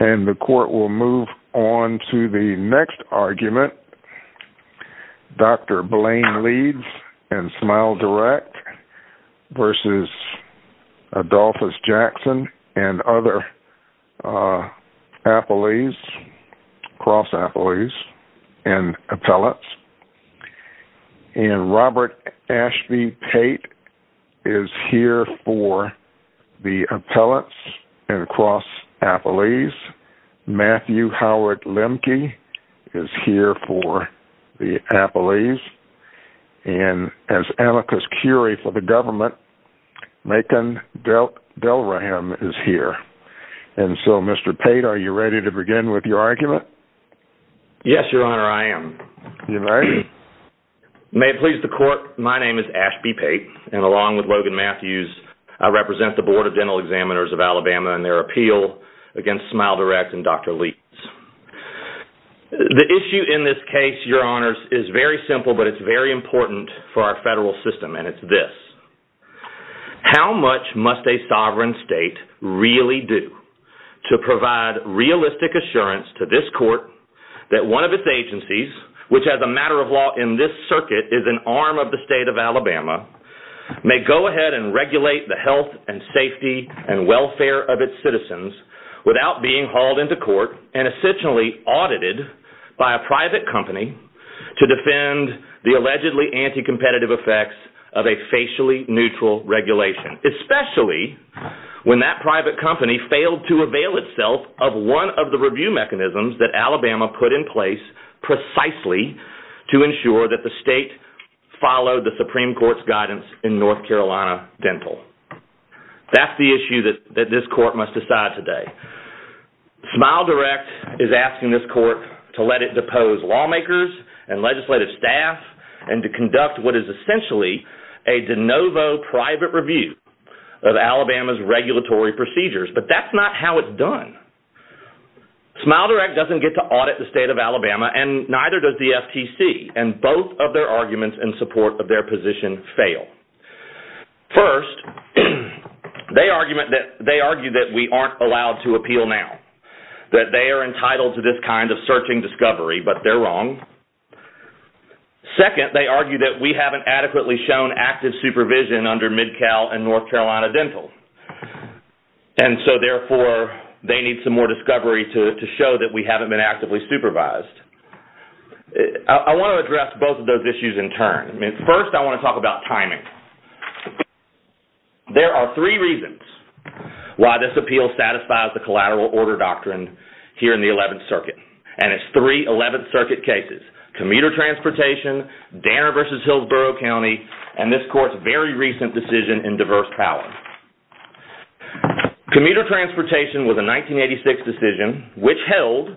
And the Court will move on to the next argument. Dr. Blaine Leeds and Smile Direct v. Adolphus Jackson and other Cross Appellees and Appellants. And Robert Ashby Pate is here for the Appellants and Cross Appellees. Matthew Howard Lemke is here for the Appellees. And as amicus curiae for the government, Macon Delrahim is here. And so Mr. Pate, are you ready to begin with your argument? Yes, Your Honor, I am. May it please the Court, my name is Ashby Pate, and along with Logan Matthews, I represent the Board of Dental Examiners of Alabama and their appeal against Smile Direct and Dr. Leeds. The issue in this case, Your Honors, is very simple, but it's very important for our federal system, and it's this. How much must a sovereign state really do to provide realistic assurance to this Court that one of its agencies, which as a matter of law in this circuit is an arm of the state of Alabama, may go ahead and regulate the health and safety and welfare of its citizens without being hauled into court and essentially audited by a private company to defend the allegedly anti-competitive effects of a facially neutral regulation, especially when that private company failed to avail itself of one of the review mechanisms that Alabama put in place precisely to ensure that the state followed the Supreme Court's guidance in North Carolina Dental? That's the issue that this Court must decide today. Smile Direct is asking this Court to let it depose lawmakers and legislative staff and to conduct what is essentially a de novo private review of Alabama's regulatory procedures, but that's not how it's done. Smile Direct doesn't get to audit the state of Alabama, and neither does the FTC, and both of their arguments in support of their position fail. First, they argue that we aren't allowed to appeal now, that they are entitled to this kind of searching discovery, but they're wrong. Second, they argue that we haven't adequately shown active supervision under Mid-Cal and North Carolina Dental, and so therefore they need some more discovery to show that we haven't been actively supervised. I want to address both of those issues in turn. First, I want to talk about timing. There are three reasons why this appeal satisfies the collateral order doctrine here in the 11th Circuit, and it's three 11th Circuit cases, commuter transportation, Danner v. Hillsborough County, and this Court's very recent decision in diverse power. Commuter transportation was a 1986 decision which held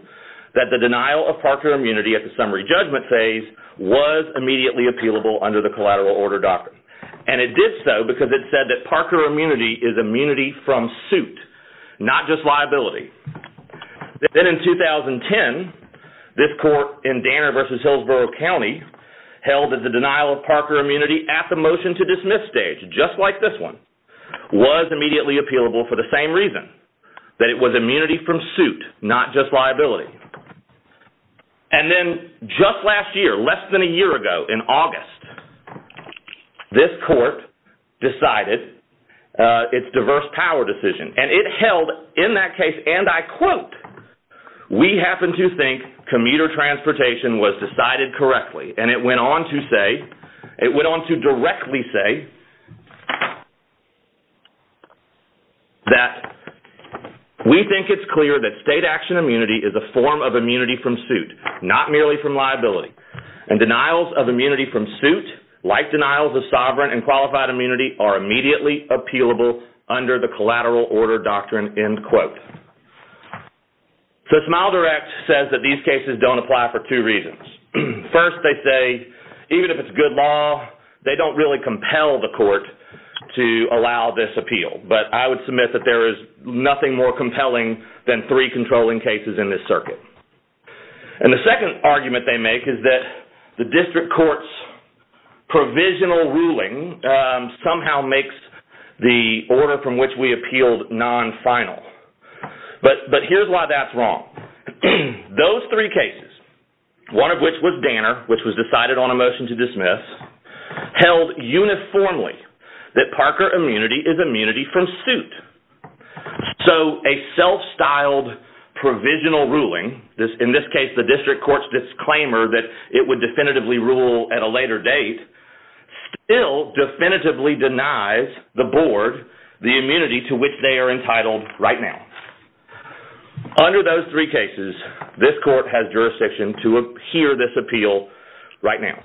that the denial of Parker immunity at the summary judgment phase was immediately appealable under the collateral order doctrine, and it did so because it said that Parker immunity is immunity from suit, not just liability. Then in 2010, this Court in Danner v. Hillsborough County held that the denial of Parker immunity at the motion to dismiss stage, just like this one, was immediately appealable for the same reason, that it was immunity from suit, not just liability. And then just last year, less than a year ago, in August, this Court decided its diverse power decision, and it held in that case, and I quote, we happen to think commuter transportation was decided correctly, and it went on to say, it went on to directly say that we think it's clear that state action immunity is a form of immunity from suit, not merely from liability, and denials of immunity from suit, like denials of sovereign and qualified immunity, are immediately appealable under the collateral order doctrine, end quote. So Smile Direct says that these cases don't apply for two reasons. First, they say, even if it's good law, they don't really compel the Court to allow this appeal, but I would submit that there is nothing more compelling than three controlling cases in this circuit. And the second argument they make is that the district court's provisional ruling somehow makes the order from which we appealed non-final. But here's why that's wrong. Those three cases, one of which was Danner, which was decided on a motion to dismiss, held uniformly that Parker immunity is immunity from suit. So a self-styled provisional ruling, in this case the district court's disclaimer that it would definitively rule at a later date, still definitively denies the Board the immunity to which they are entitled right now. Under those three cases, this Court has jurisdiction to hear this appeal right now.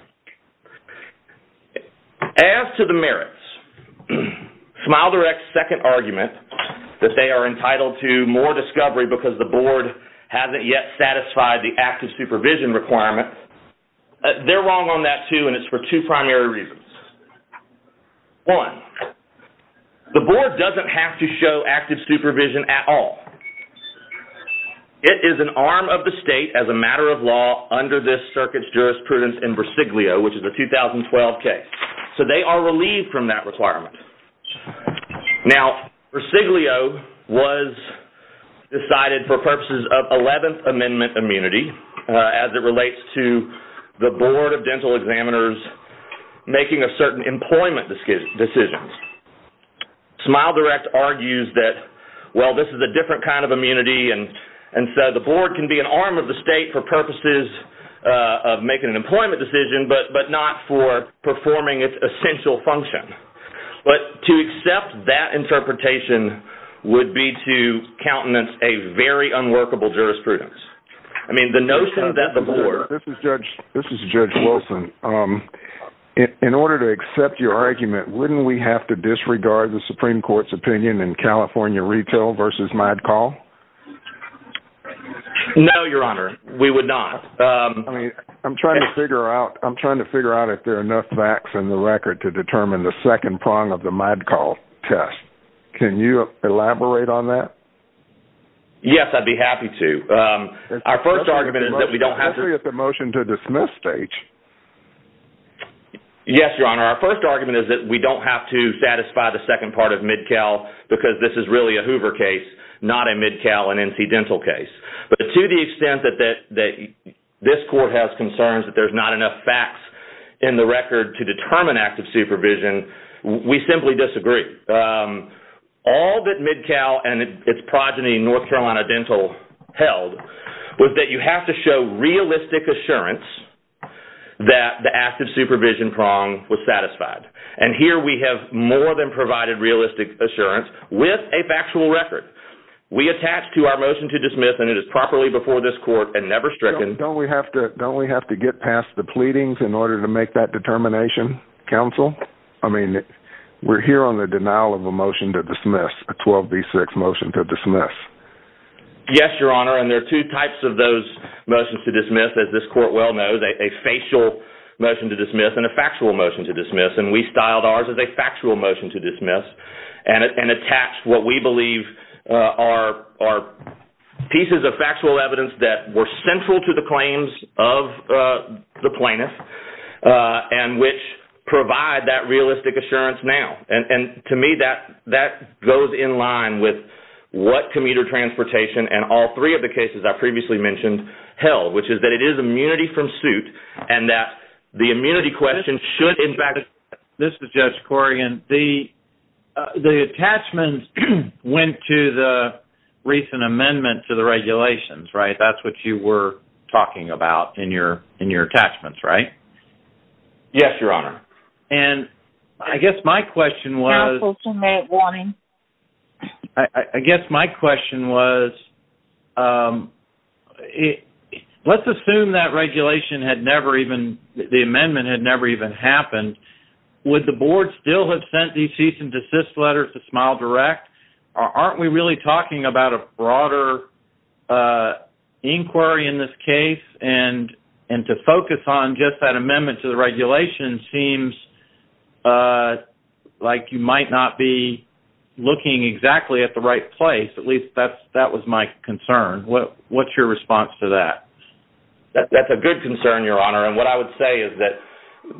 As to the merits, Smile Direct's second argument that they are entitled to more discovery because the Board hasn't yet satisfied the active supervision requirement, they're wrong on that, too, and it's for two primary reasons. One, the Board doesn't have to show active supervision at all. It is an arm of the state as a matter of law under this circuit's jurisprudence in Brasiglio, which is a 2012 case. So they are relieved from that requirement. Now, Brasiglio was decided for purposes of 11th Amendment immunity, as it relates to the Board of Dental Examiners making a certain employment decision. Smile Direct argues that, well, this is a different kind of immunity, and so the Board can be an arm of the state for purposes of making an employment decision, but not for performing its essential function. But to accept that interpretation would be to countenance a very unworkable jurisprudence. I mean, the notion that the Board... This is Judge Wilson. In order to accept your argument, wouldn't we have to disregard the Supreme Court's opinion in California Retail v. MIDCALL? No, Your Honor, we would not. I'm trying to figure out if there are enough facts in the record to determine the second prong of the MIDCALL test. Can you elaborate on that? Yes, I'd be happy to. Our first argument is that we don't have to... Especially at the motion to dismiss stage. Yes, Your Honor. Our first argument is that we don't have to satisfy the second part of MIDCALL because this is really a Hoover case, not a MIDCALL and NC Dental case. But to the extent that this Court has concerns that there's not enough facts in the record to determine active supervision, we simply disagree. All that MIDCALL and its progeny, NC Dental, held was that you have to show realistic assurance that the active supervision prong was satisfied. And here we have more than provided realistic assurance with a factual record. We attach to our motion to dismiss, and it is properly before this Court and never stricken... Don't we have to get past the pleadings in order to make that determination, Counsel? I mean, we're here on the denial of a motion to dismiss, a 12B6 motion to dismiss. Yes, Your Honor, and there are two types of those motions to dismiss, as this Court well knows. A facial motion to dismiss and a factual motion to dismiss. And we styled ours as a factual motion to dismiss and attached what we believe are pieces of factual evidence that were central to the claims of the plaintiff and which provide that realistic assurance now. And to me, that goes in line with what commuter transportation and all three of the cases I previously mentioned held, which is that it is immunity from suit and that the immunity question should, in fact... This is Judge Corrigan. The attachments went to the recent amendment to the regulations, right? Yes, Your Honor. And I guess my question was... Counsel, two-minute warning. I guess my question was, let's assume that regulation had never even... The amendment had never even happened. Would the Board still have sent these cease-and-desist letters to Smile Direct? Aren't we really talking about a broader inquiry in this case and to focus on just that amendment to the regulations seems like you might not be looking exactly at the right place. At least that was my concern. What's your response to that? That's a good concern, Your Honor. And what I would say is that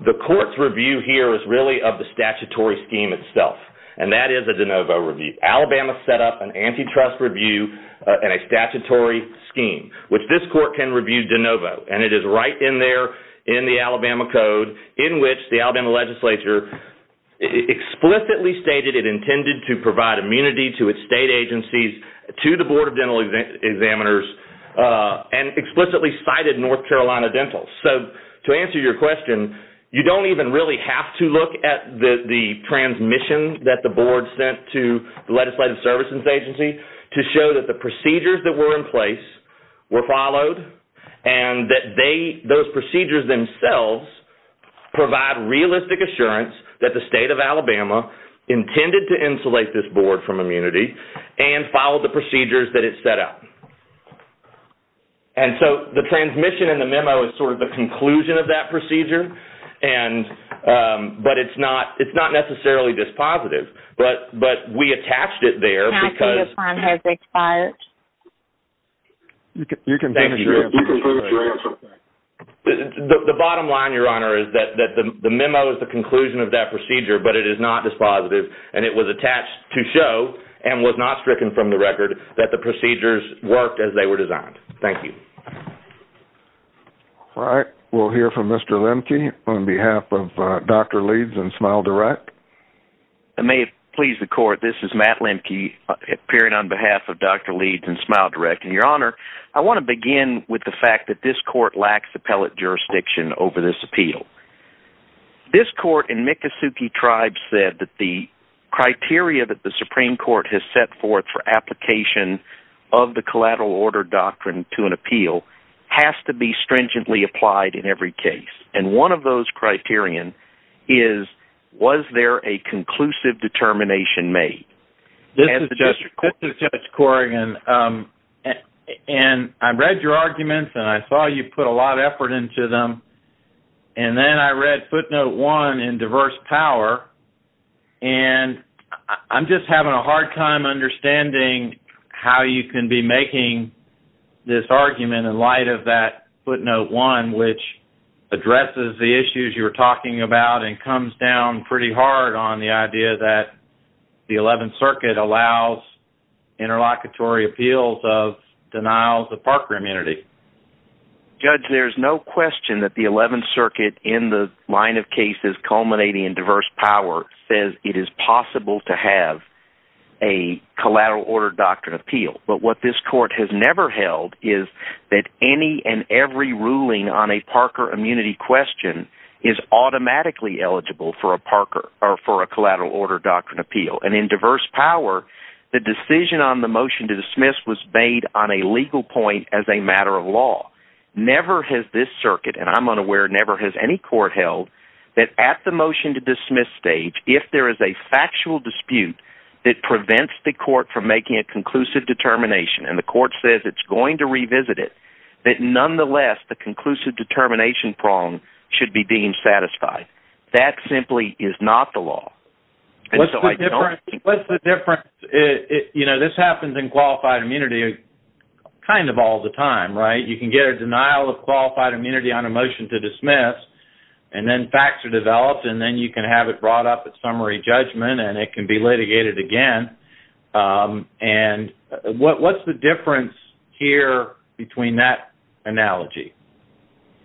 the court's review here is really of the statutory scheme itself, and that is a de novo review. Alabama set up an antitrust review and a statutory scheme, which this court can review de novo, and it is right in there in the Alabama Code in which the Alabama legislature explicitly stated it intended to provide immunity to its state agencies, to the Board of Dental Examiners, and explicitly cited North Carolina Dental. So to answer your question, you don't even really have to look at the transmission that the Board sent to the Legislative Services Agency to show that the procedures that were in place were followed and that those procedures themselves provide realistic assurance that the state of Alabama intended to insulate this board from immunity and followed the procedures that it set out. And so the transmission and the memo is sort of the conclusion of that procedure, but it's not necessarily dispositive. But we attached it there because... Your time has expired. You can finish your answer. The bottom line, Your Honor, is that the memo is the conclusion of that procedure, but it is not dispositive, and it was attached to show and was not stricken from the record that the procedures worked as they were designed. Thank you. All right, we'll hear from Mr. Lemke on behalf of Dr. Leeds and Smile Direct. I may have pleased the Court. This is Matt Lemke, appearing on behalf of Dr. Leeds and Smile Direct. And, Your Honor, I want to begin with the fact that this Court lacks appellate jurisdiction over this appeal. This Court in Miccosukee Tribe said that the criteria that the Supreme Court has set forth for application of the Collateral Order Doctrine to an appeal has to be stringently applied in every case. And one of those criterion is, was there a conclusive determination made? This is Judge Corrigan. And I read your arguments, and I saw you put a lot of effort into them. And then I read footnote one in Diverse Power, and I'm just having a hard time understanding how you can be making this argument in light of that footnote one, which addresses the issues you were talking about and comes down pretty hard on the idea that the Eleventh Circuit allows interlocutory appeals of denials of Parker immunity. Judge, there's no question that the Eleventh Circuit in the line of cases culminating in Diverse Power says it is possible to have a Collateral Order Doctrine appeal. But what this Court has never held is that any and every ruling on a Parker immunity question is automatically eligible for a Collateral Order Doctrine appeal. And in Diverse Power, the decision on the motion to dismiss was made on a legal point as a matter of law. Never has this circuit, and I'm unaware, never has any court held that at the motion to dismiss stage, if there is a factual dispute that prevents the court from making a conclusive determination, and the court says it's going to revisit it, that nonetheless the conclusive determination prong should be deemed satisfied. That simply is not the law. What's the difference? You know, this happens in qualified immunity kind of all the time, right? You can get a denial of qualified immunity on a motion to dismiss, and then facts are developed, and then you can have it brought up at summary judgment, and it can be litigated again. And what's the difference here between that analogy?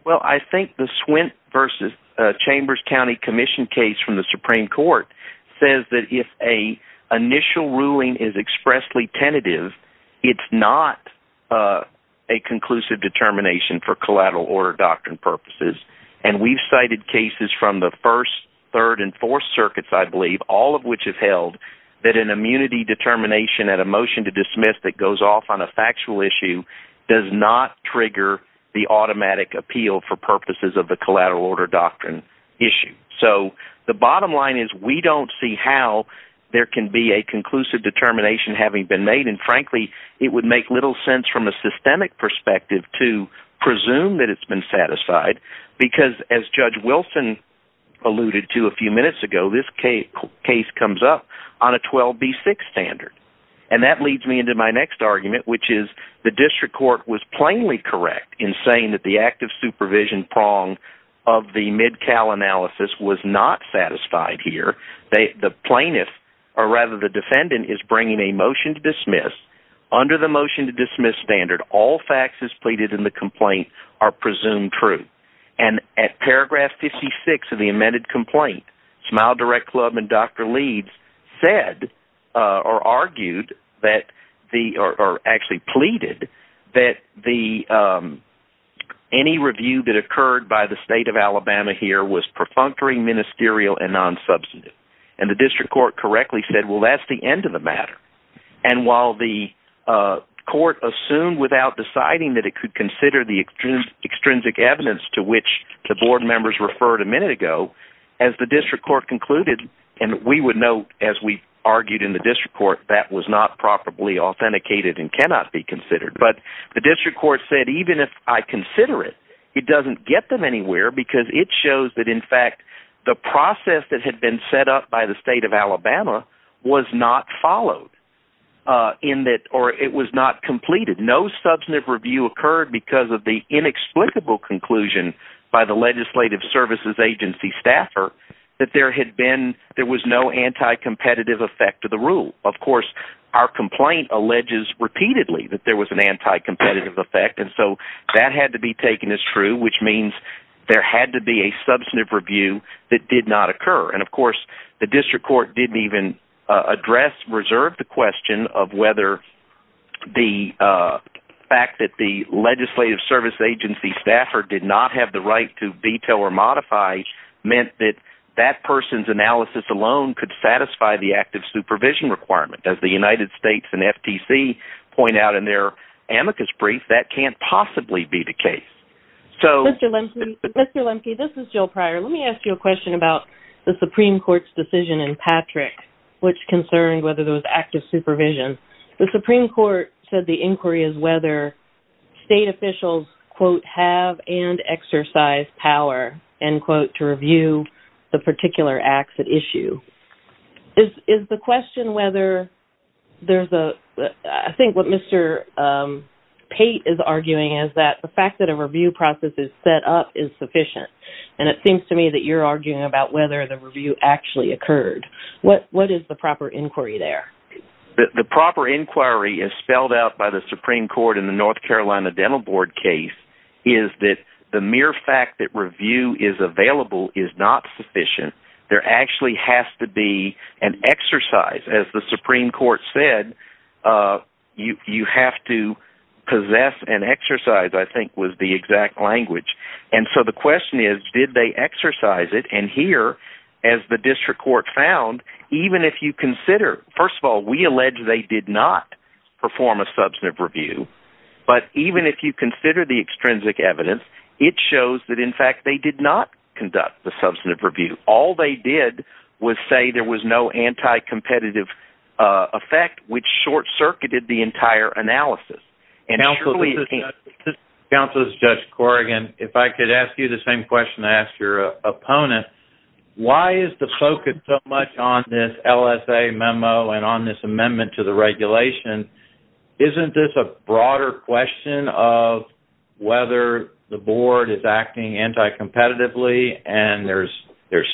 Well, I think the Swint v. Chambers County Commission case from the Supreme Court says that if an initial ruling is expressly tentative, it's not a conclusive determination for Collateral Order Doctrine purposes. And we've cited cases from the First, Third, and Fourth Circuits, I believe, all of which have held that an immunity determination at a motion to dismiss that goes off on a factual issue does not trigger the automatic appeal for purposes of the Collateral Order Doctrine issue. So the bottom line is we don't see how there can be a conclusive determination having been made, and frankly, it would make little sense from a systemic perspective to presume that it's been satisfied, because as Judge Wilson alluded to a few minutes ago, this case comes up on a 12B6 standard. And that leads me into my next argument, which is the district court was plainly correct in saying that the active supervision prong of the MIDCAL analysis was not satisfied here. The plaintiff, or rather the defendant, is bringing a motion to dismiss. Under the motion to dismiss standard, all facts as pleaded in the complaint are presumed true. And at paragraph 56 of the amended complaint, Smile Direct Club and Dr. Leeds said, or argued, or actually pleaded, that any review that occurred by the state of Alabama here was perfunctory, ministerial, and non-substantive. And the district court correctly said, well, that's the end of the matter. And while the court assumed without deciding that it could consider the extrinsic evidence to which the board members referred a minute ago, as the district court concluded, and we would note, as we argued in the district court, that was not properly authenticated and cannot be considered. But the district court said, even if I consider it, it doesn't get them anywhere because it shows that, in fact, the process that had been set up by the state of Alabama was not followed, or it was not completed. No substantive review occurred because of the inexplicable conclusion by the Legislative Services Agency staffer that there was no anti-competitive effect to the rule. Of course, our complaint alleges repeatedly that there was an anti-competitive effect, and so that had to be taken as true, which means there had to be a substantive review that did not occur. And, of course, the district court didn't even address, reserve the question of whether the fact that the Legislative Services Agency staffer did not have the right to detail or modify meant that that person's analysis alone could satisfy the active supervision requirement. As the United States and FTC point out in their amicus brief, that can't possibly be the case. Mr. Lemke, this is Jill Pryor. Let me ask you a question about the Supreme Court's decision in Patrick which concerned whether there was active supervision. The Supreme Court said the inquiry is whether state officials, quote, have and exercise power, end quote, to review the particular acts at issue. Is the question whether there's a... I think what Mr. Pate is arguing is that the fact that a review process is set up is sufficient, and it seems to me that you're arguing about whether the review actually occurred. What is the proper inquiry there? The proper inquiry is spelled out by the Supreme Court in the North Carolina Dental Board case is that the mere fact that review is available is not sufficient. There actually has to be an exercise. As the Supreme Court said, you have to possess and exercise, I think, was the exact language. And so the question is, did they exercise it? And here, as the district court found, even if you consider... they did not perform a substantive review, but even if you consider the extrinsic evidence, it shows that, in fact, they did not conduct the substantive review. All they did was say there was no anti-competitive effect, which short-circuited the entire analysis. Counsel, this is Judge Corrigan. If I could ask you the same question I asked your opponent, why is the focus so much on this LSA memo and on this amendment to the regulation? Isn't this a broader question of whether the board is acting anti-competitively and there's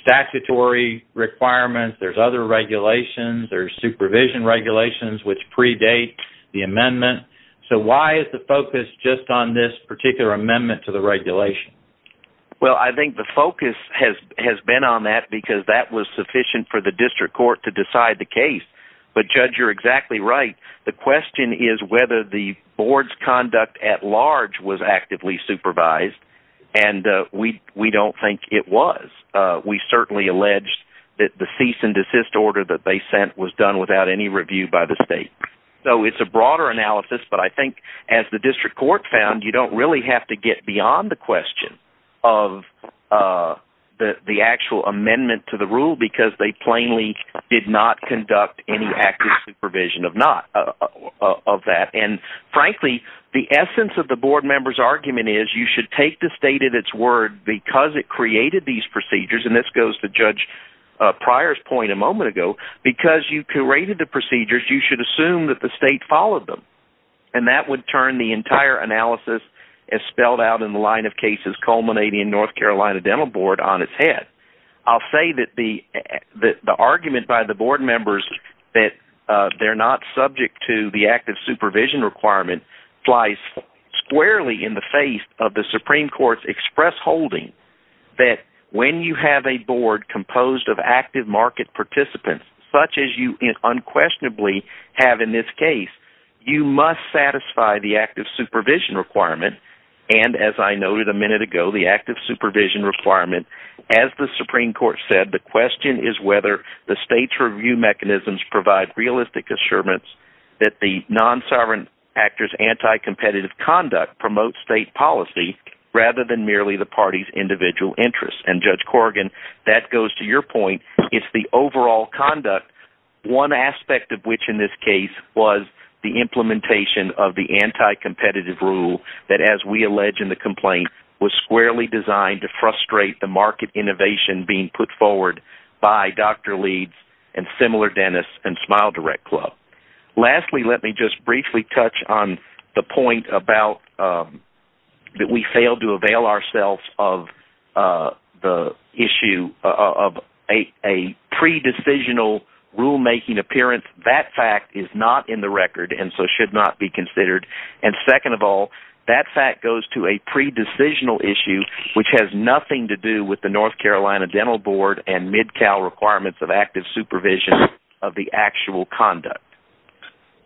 statutory requirements, there's other regulations, there's supervision regulations which predate the amendment? So why is the focus just on this particular amendment to the regulation? Well, I think the focus has been on that because that was sufficient for the district court to decide the case. But, Judge, you're exactly right. The question is whether the board's conduct at large was actively supervised, and we don't think it was. We certainly alleged that the cease-and-desist order that they sent was done without any review by the state. So it's a broader analysis, but I think, as the district court found, you don't really have to get beyond the question of the actual amendment to the rule because they plainly did not conduct any active supervision of that. And frankly, the essence of the board member's argument is you should take the state at its word because it created these procedures, and this goes to Judge Pryor's point a moment ago, because you created the procedures, you should assume that the state followed them. And that would turn the entire analysis, as spelled out in the line of cases culminating in North Carolina Dental Board, on its head. I'll say that the argument by the board members that they're not subject to the active supervision requirement flies squarely in the face of the Supreme Court's express holding that when you have a board composed of active market participants, such as you unquestionably have in this case, you must satisfy the active supervision requirement. And as I noted a minute ago, the active supervision requirement, as the Supreme Court said, the question is whether the state's review mechanisms provide realistic assurance that the non-sovereign actor's anti-competitive conduct promotes state policy rather than merely the party's individual interests. And, Judge Corrigan, that goes to your point. It's the overall conduct, one aspect of which in this case was the implementation of the anti-competitive rule that, as we allege in the complaint, was squarely designed to frustrate the market innovation being put forward by Dr. Leeds and similar dentists and Smile Direct Club. Lastly, let me just briefly touch on the point about that we failed to avail ourselves of the issue of a pre-decisional rulemaking appearance. That fact is not in the record and so should not be considered. And second of all, that fact goes to a pre-decisional issue which has nothing to do with the North Carolina Dental Board and Mid-Cal requirements of active supervision of the actual conduct.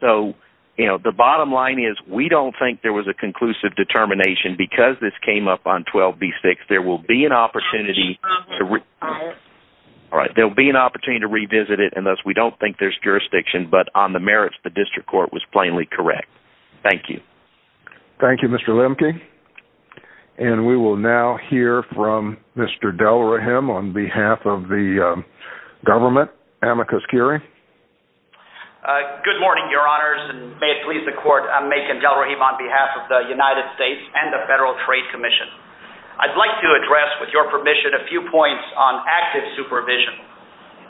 So, you know, the bottom line is we don't think there was a conclusive determination. Because this came up on 12b-6, there will be an opportunity to revisit it and thus we don't think there's jurisdiction. But on the merits, the district court was plainly correct. Thank you. Thank you, Mr. Lemke. And we will now hear from Mr. Delrahim on behalf of the government. Amicus Curie. Good morning, your honors. May it please the court, I'm Macon Delrahim on behalf of the United States and the Federal Trade Commission. I'd like to address, with your permission, a few points on active supervision.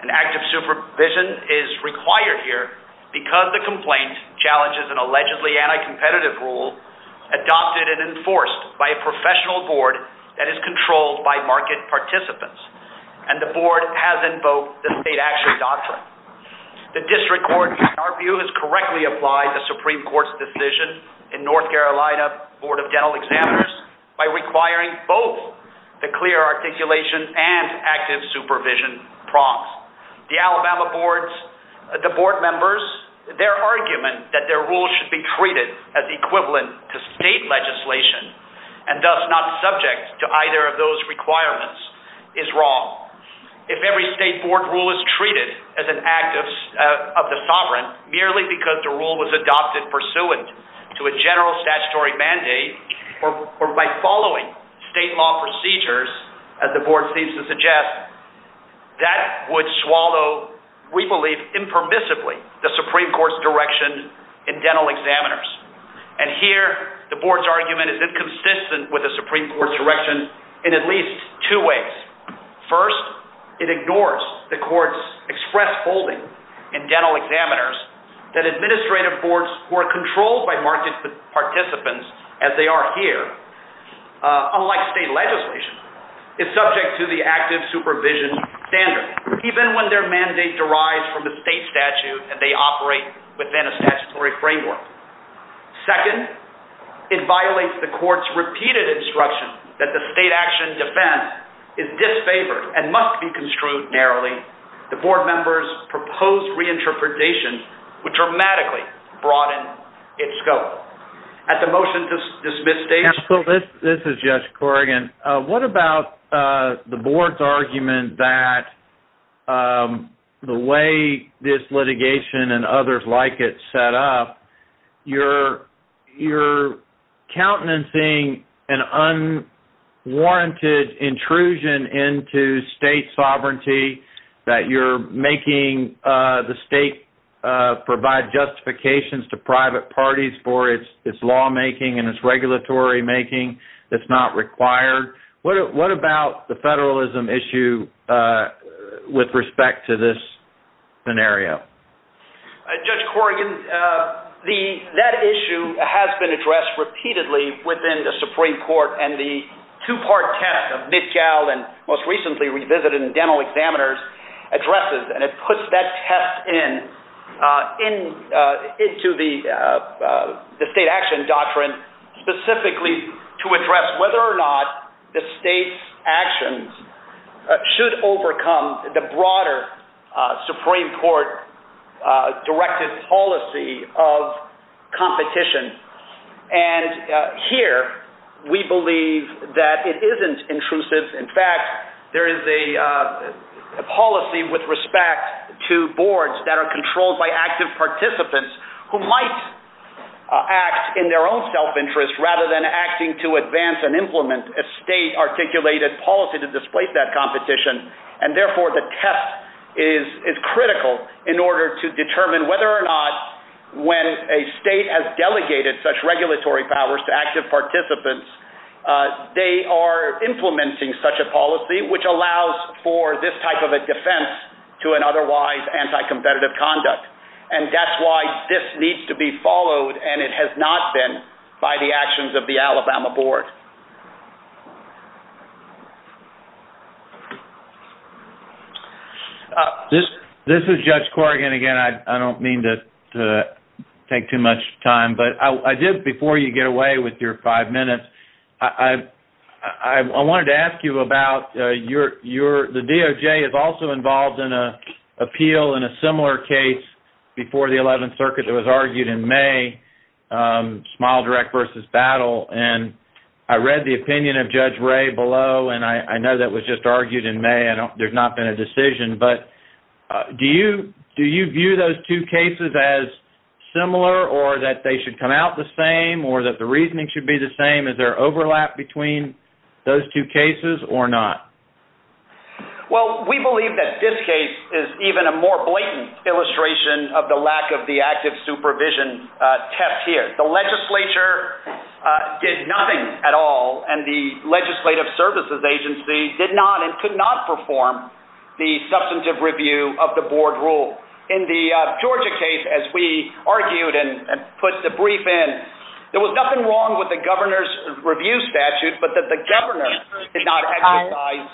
And active supervision is required here because the complaint challenges an allegedly anti-competitive rule adopted and enforced by a professional board that is controlled by market participants. And the board has invoked the state action doctrine. The district court, in our view, has correctly applied the Supreme Court's decision in North Carolina Board of Dental Examiners by requiring both the clear articulation and active supervision prompts. The Alabama boards, the board members, their argument that their rule should be treated as equivalent to state legislation and thus not subject to either of those requirements is wrong. If every state board rule is treated as an act of the sovereign merely because the rule was adopted pursuant to a general statutory mandate or by following state law procedures, as the board seems to suggest, that would swallow, we believe, impermissibly the Supreme Court's direction in dental examiners. And here the board's argument is inconsistent with the Supreme Court's direction in at least two ways. First, it ignores the court's express holding in dental examiners that administrative boards who are controlled by market participants as they are here, unlike state legislation, is subject to the active supervision standard even when their mandate derives from the state statute that they operate within a statutory framework. Second, it violates the court's repeated instruction that the state action defense is disfavored and must be construed narrowly. The board members' proposed reinterpretation would dramatically broaden its scope. At the motion to dismiss stage... Counsel, this is Judge Corrigan. What about the board's argument that the way this litigation and others like it set up, you're countenancing an unwarranted intrusion into state sovereignty, that you're making the state provide justifications to private parties for its lawmaking and its regulatory making that's not required? What about the federalism issue with respect to this scenario? Judge Corrigan, that issue has been addressed repeatedly within the Supreme Court, and the two-part test of Mitchell and most recently revisited in dental examiners addresses, and it puts that test into the state action doctrine specifically to address whether or not the state's actions should overcome the broader Supreme Court-directed policy of competition. And here, we believe that it isn't intrusive. In fact, there is a policy with respect to boards that are controlled by active participants who might act in their own self-interest rather than acting to advance and implement a state-articulated policy to displace that competition. And therefore, the test is critical in order to determine whether or not when a state has delegated such regulatory powers to active participants, they are implementing such a policy which allows for this type of a defense to an otherwise anti-competitive conduct. And that's why this needs to be followed, and it has not been, by the actions of the Alabama board. This is Judge Corrigan again. I don't mean to take too much time, but I did, before you get away with your five minutes. I wanted to ask you about your... The DOJ is also involved in an appeal in a similar case before the 11th Circuit that was argued in May, Smile Direct versus Battle. And I read the opinion of Judge Ray below, and I know that was just argued in May. There's not been a decision. But do you view those two cases as similar or that they should come out the same or that the reasoning should be the same? Is there overlap between those two cases or not? Well, we believe that this case is even a more blatant illustration of the lack of the active supervision test here. The legislature did nothing at all, and the Legislative Services Agency did not and could not perform the substantive review of the board rule. In the Georgia case, as we argued and put the brief in, there was nothing wrong with the governor's review statute, but that the governor did not exercise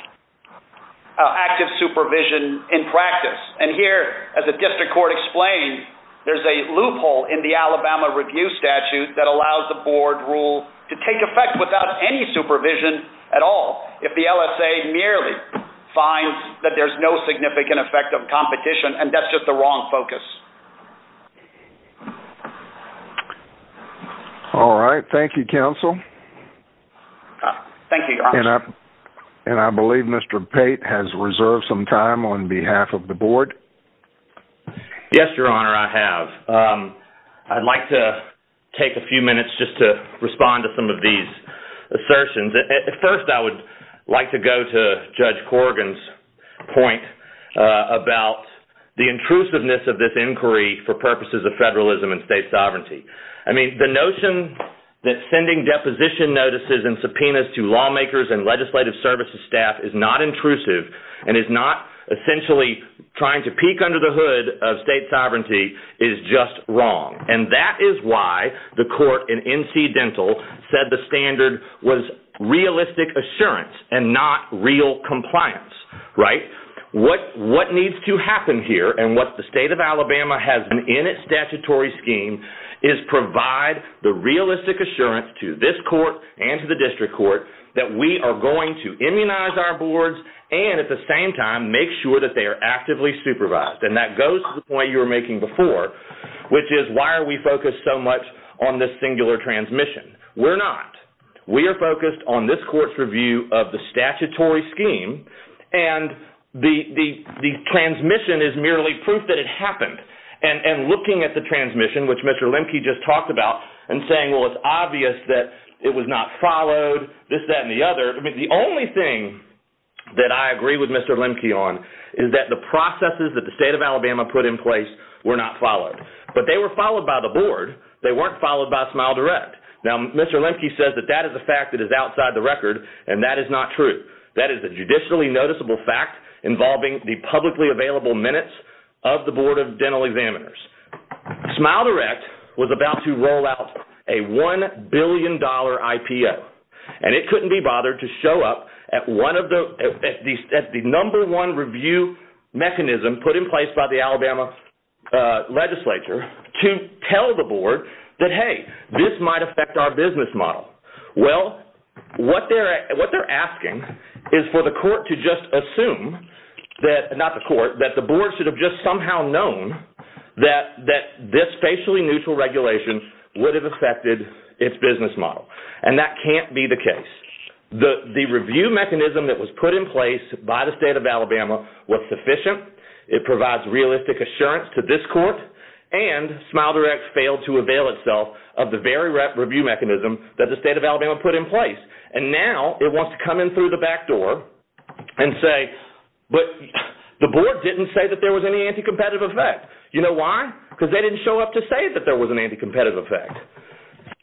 active supervision in practice. And here, as the district court explained, there's a loophole in the Alabama review statute that allows the board rule to take effect without any supervision at all if the LSA merely finds that there's no significant effect of competition, and that's just the wrong focus. All right. Thank you, counsel. Thank you, Your Honor. And I believe Mr. Pate has reserved some time on behalf of the board. Yes, Your Honor, I have. I'd like to take a few minutes just to respond to some of these assertions. First, I would like to go to Judge Corrigan's point about the intrusiveness of this inquiry for purposes of federalism and state sovereignty. I mean, the notion that sending deposition notices and subpoenas to lawmakers and legislative services staff is not intrusive and is not essentially trying to peek under the hood of state sovereignty is just wrong. And that is why the court in NC Dental said the standard was realistic assurance and not real compliance, right? What needs to happen here and what the state of Alabama has done in its statutory scheme is provide the realistic assurance to this court and to the district court that we are going to immunize our boards and at the same time make sure that they are actively supervised. And that goes to the point you were making before, which is why are we focused so much on this singular transmission? We're not. We are focused on this court's review of the statutory scheme, and the transmission is merely proof that it happened. And looking at the transmission, which Mr. Lemke just talked about, and saying, well, it's obvious that it was not followed, this, that, and the other, the only thing that I agree with Mr. Lemke on is that the processes that the state of Alabama put in place were not followed. But they were followed by the board. They weren't followed by SmileDirect. Now, Mr. Lemke says that that is a fact that is outside the record, and that is not true. That is a judicially noticeable fact involving the publicly available minutes of the Board of Dental Examiners. SmileDirect was about to roll out a $1 billion IPO, and it couldn't be bothered to show up at the number one review mechanism put in place by the Alabama legislature to tell the board that, hey, this might affect our business model. Well, what they're asking is for the court to just assume that, not the court, that the board should have just somehow known that this facially neutral regulation would have affected its business model. And that can't be the case. The review mechanism that was put in place by the state of Alabama was sufficient. It provides realistic assurance to this court, and SmileDirect failed to avail itself of the very review mechanism that the state of Alabama put in place. And now it wants to come in through the back door and say, but the board didn't say that there was any anti-competitive effect. You know why? Because they didn't show up to say that there was an anti-competitive effect.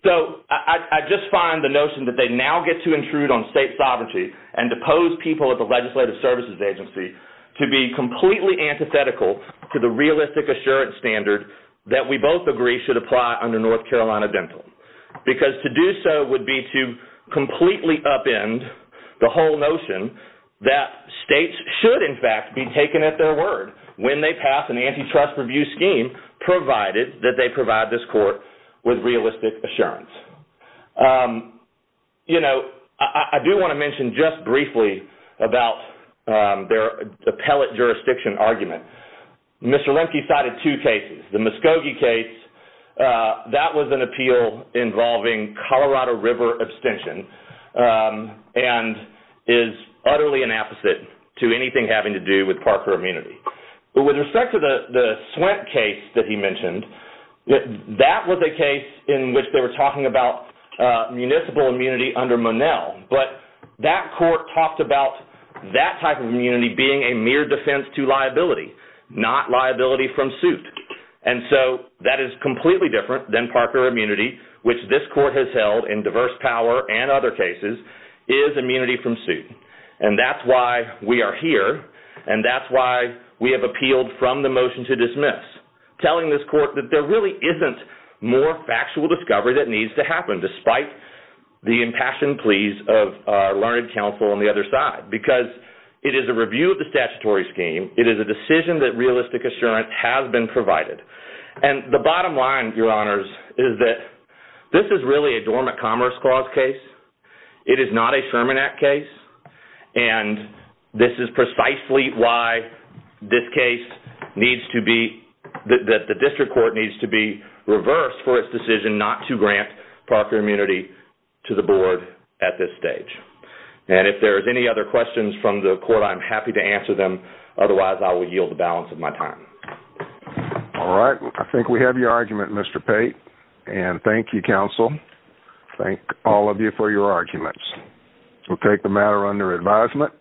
So I just find the notion that they now get to intrude on state sovereignty and depose people at the legislative services agency to be completely antithetical to the realistic assurance standard that we both agree should apply under North Carolina Dental. Because to do so would be to completely upend the whole notion that states should, in fact, be taken at their word when they pass an antitrust review scheme, provided that they provide this court with realistic assurance. You know, I do want to mention just briefly about their appellate jurisdiction argument. Mr. Lemke cited two cases. The Muskogee case, that was an appeal involving Colorado River abstention and is utterly an apposite to anything having to do with Parker immunity. But with respect to the Swent case that he mentioned, that was a case in which they were talking about municipal immunity under Monell. But that court talked about that type of immunity being a mere defense to liability, not liability from suit. And so that is completely different than Parker immunity, which this court has held in diverse power and other cases, is immunity from suit. And that's why we are here, and that's why we have appealed from the motion to dismiss, telling this court that there really isn't more factual discovery that needs to happen, despite the impassioned pleas of our learned counsel on the other side. Because it is a review of the statutory scheme, it is a decision that realistic assurance has been provided. And the bottom line, Your Honors, is that this is really a dormant commerce clause case. It is not a Sherman Act case. And this is precisely why this case needs to be, that the district court needs to be reversed for its decision not to grant Parker immunity to the board at this stage. And if there's any other questions from the court, I'm happy to answer them. Otherwise, I will yield the balance of my time. All right. I think we have your argument, Mr. Pate. And thank you, counsel. Thank all of you for your arguments. We'll take the matter under advisement.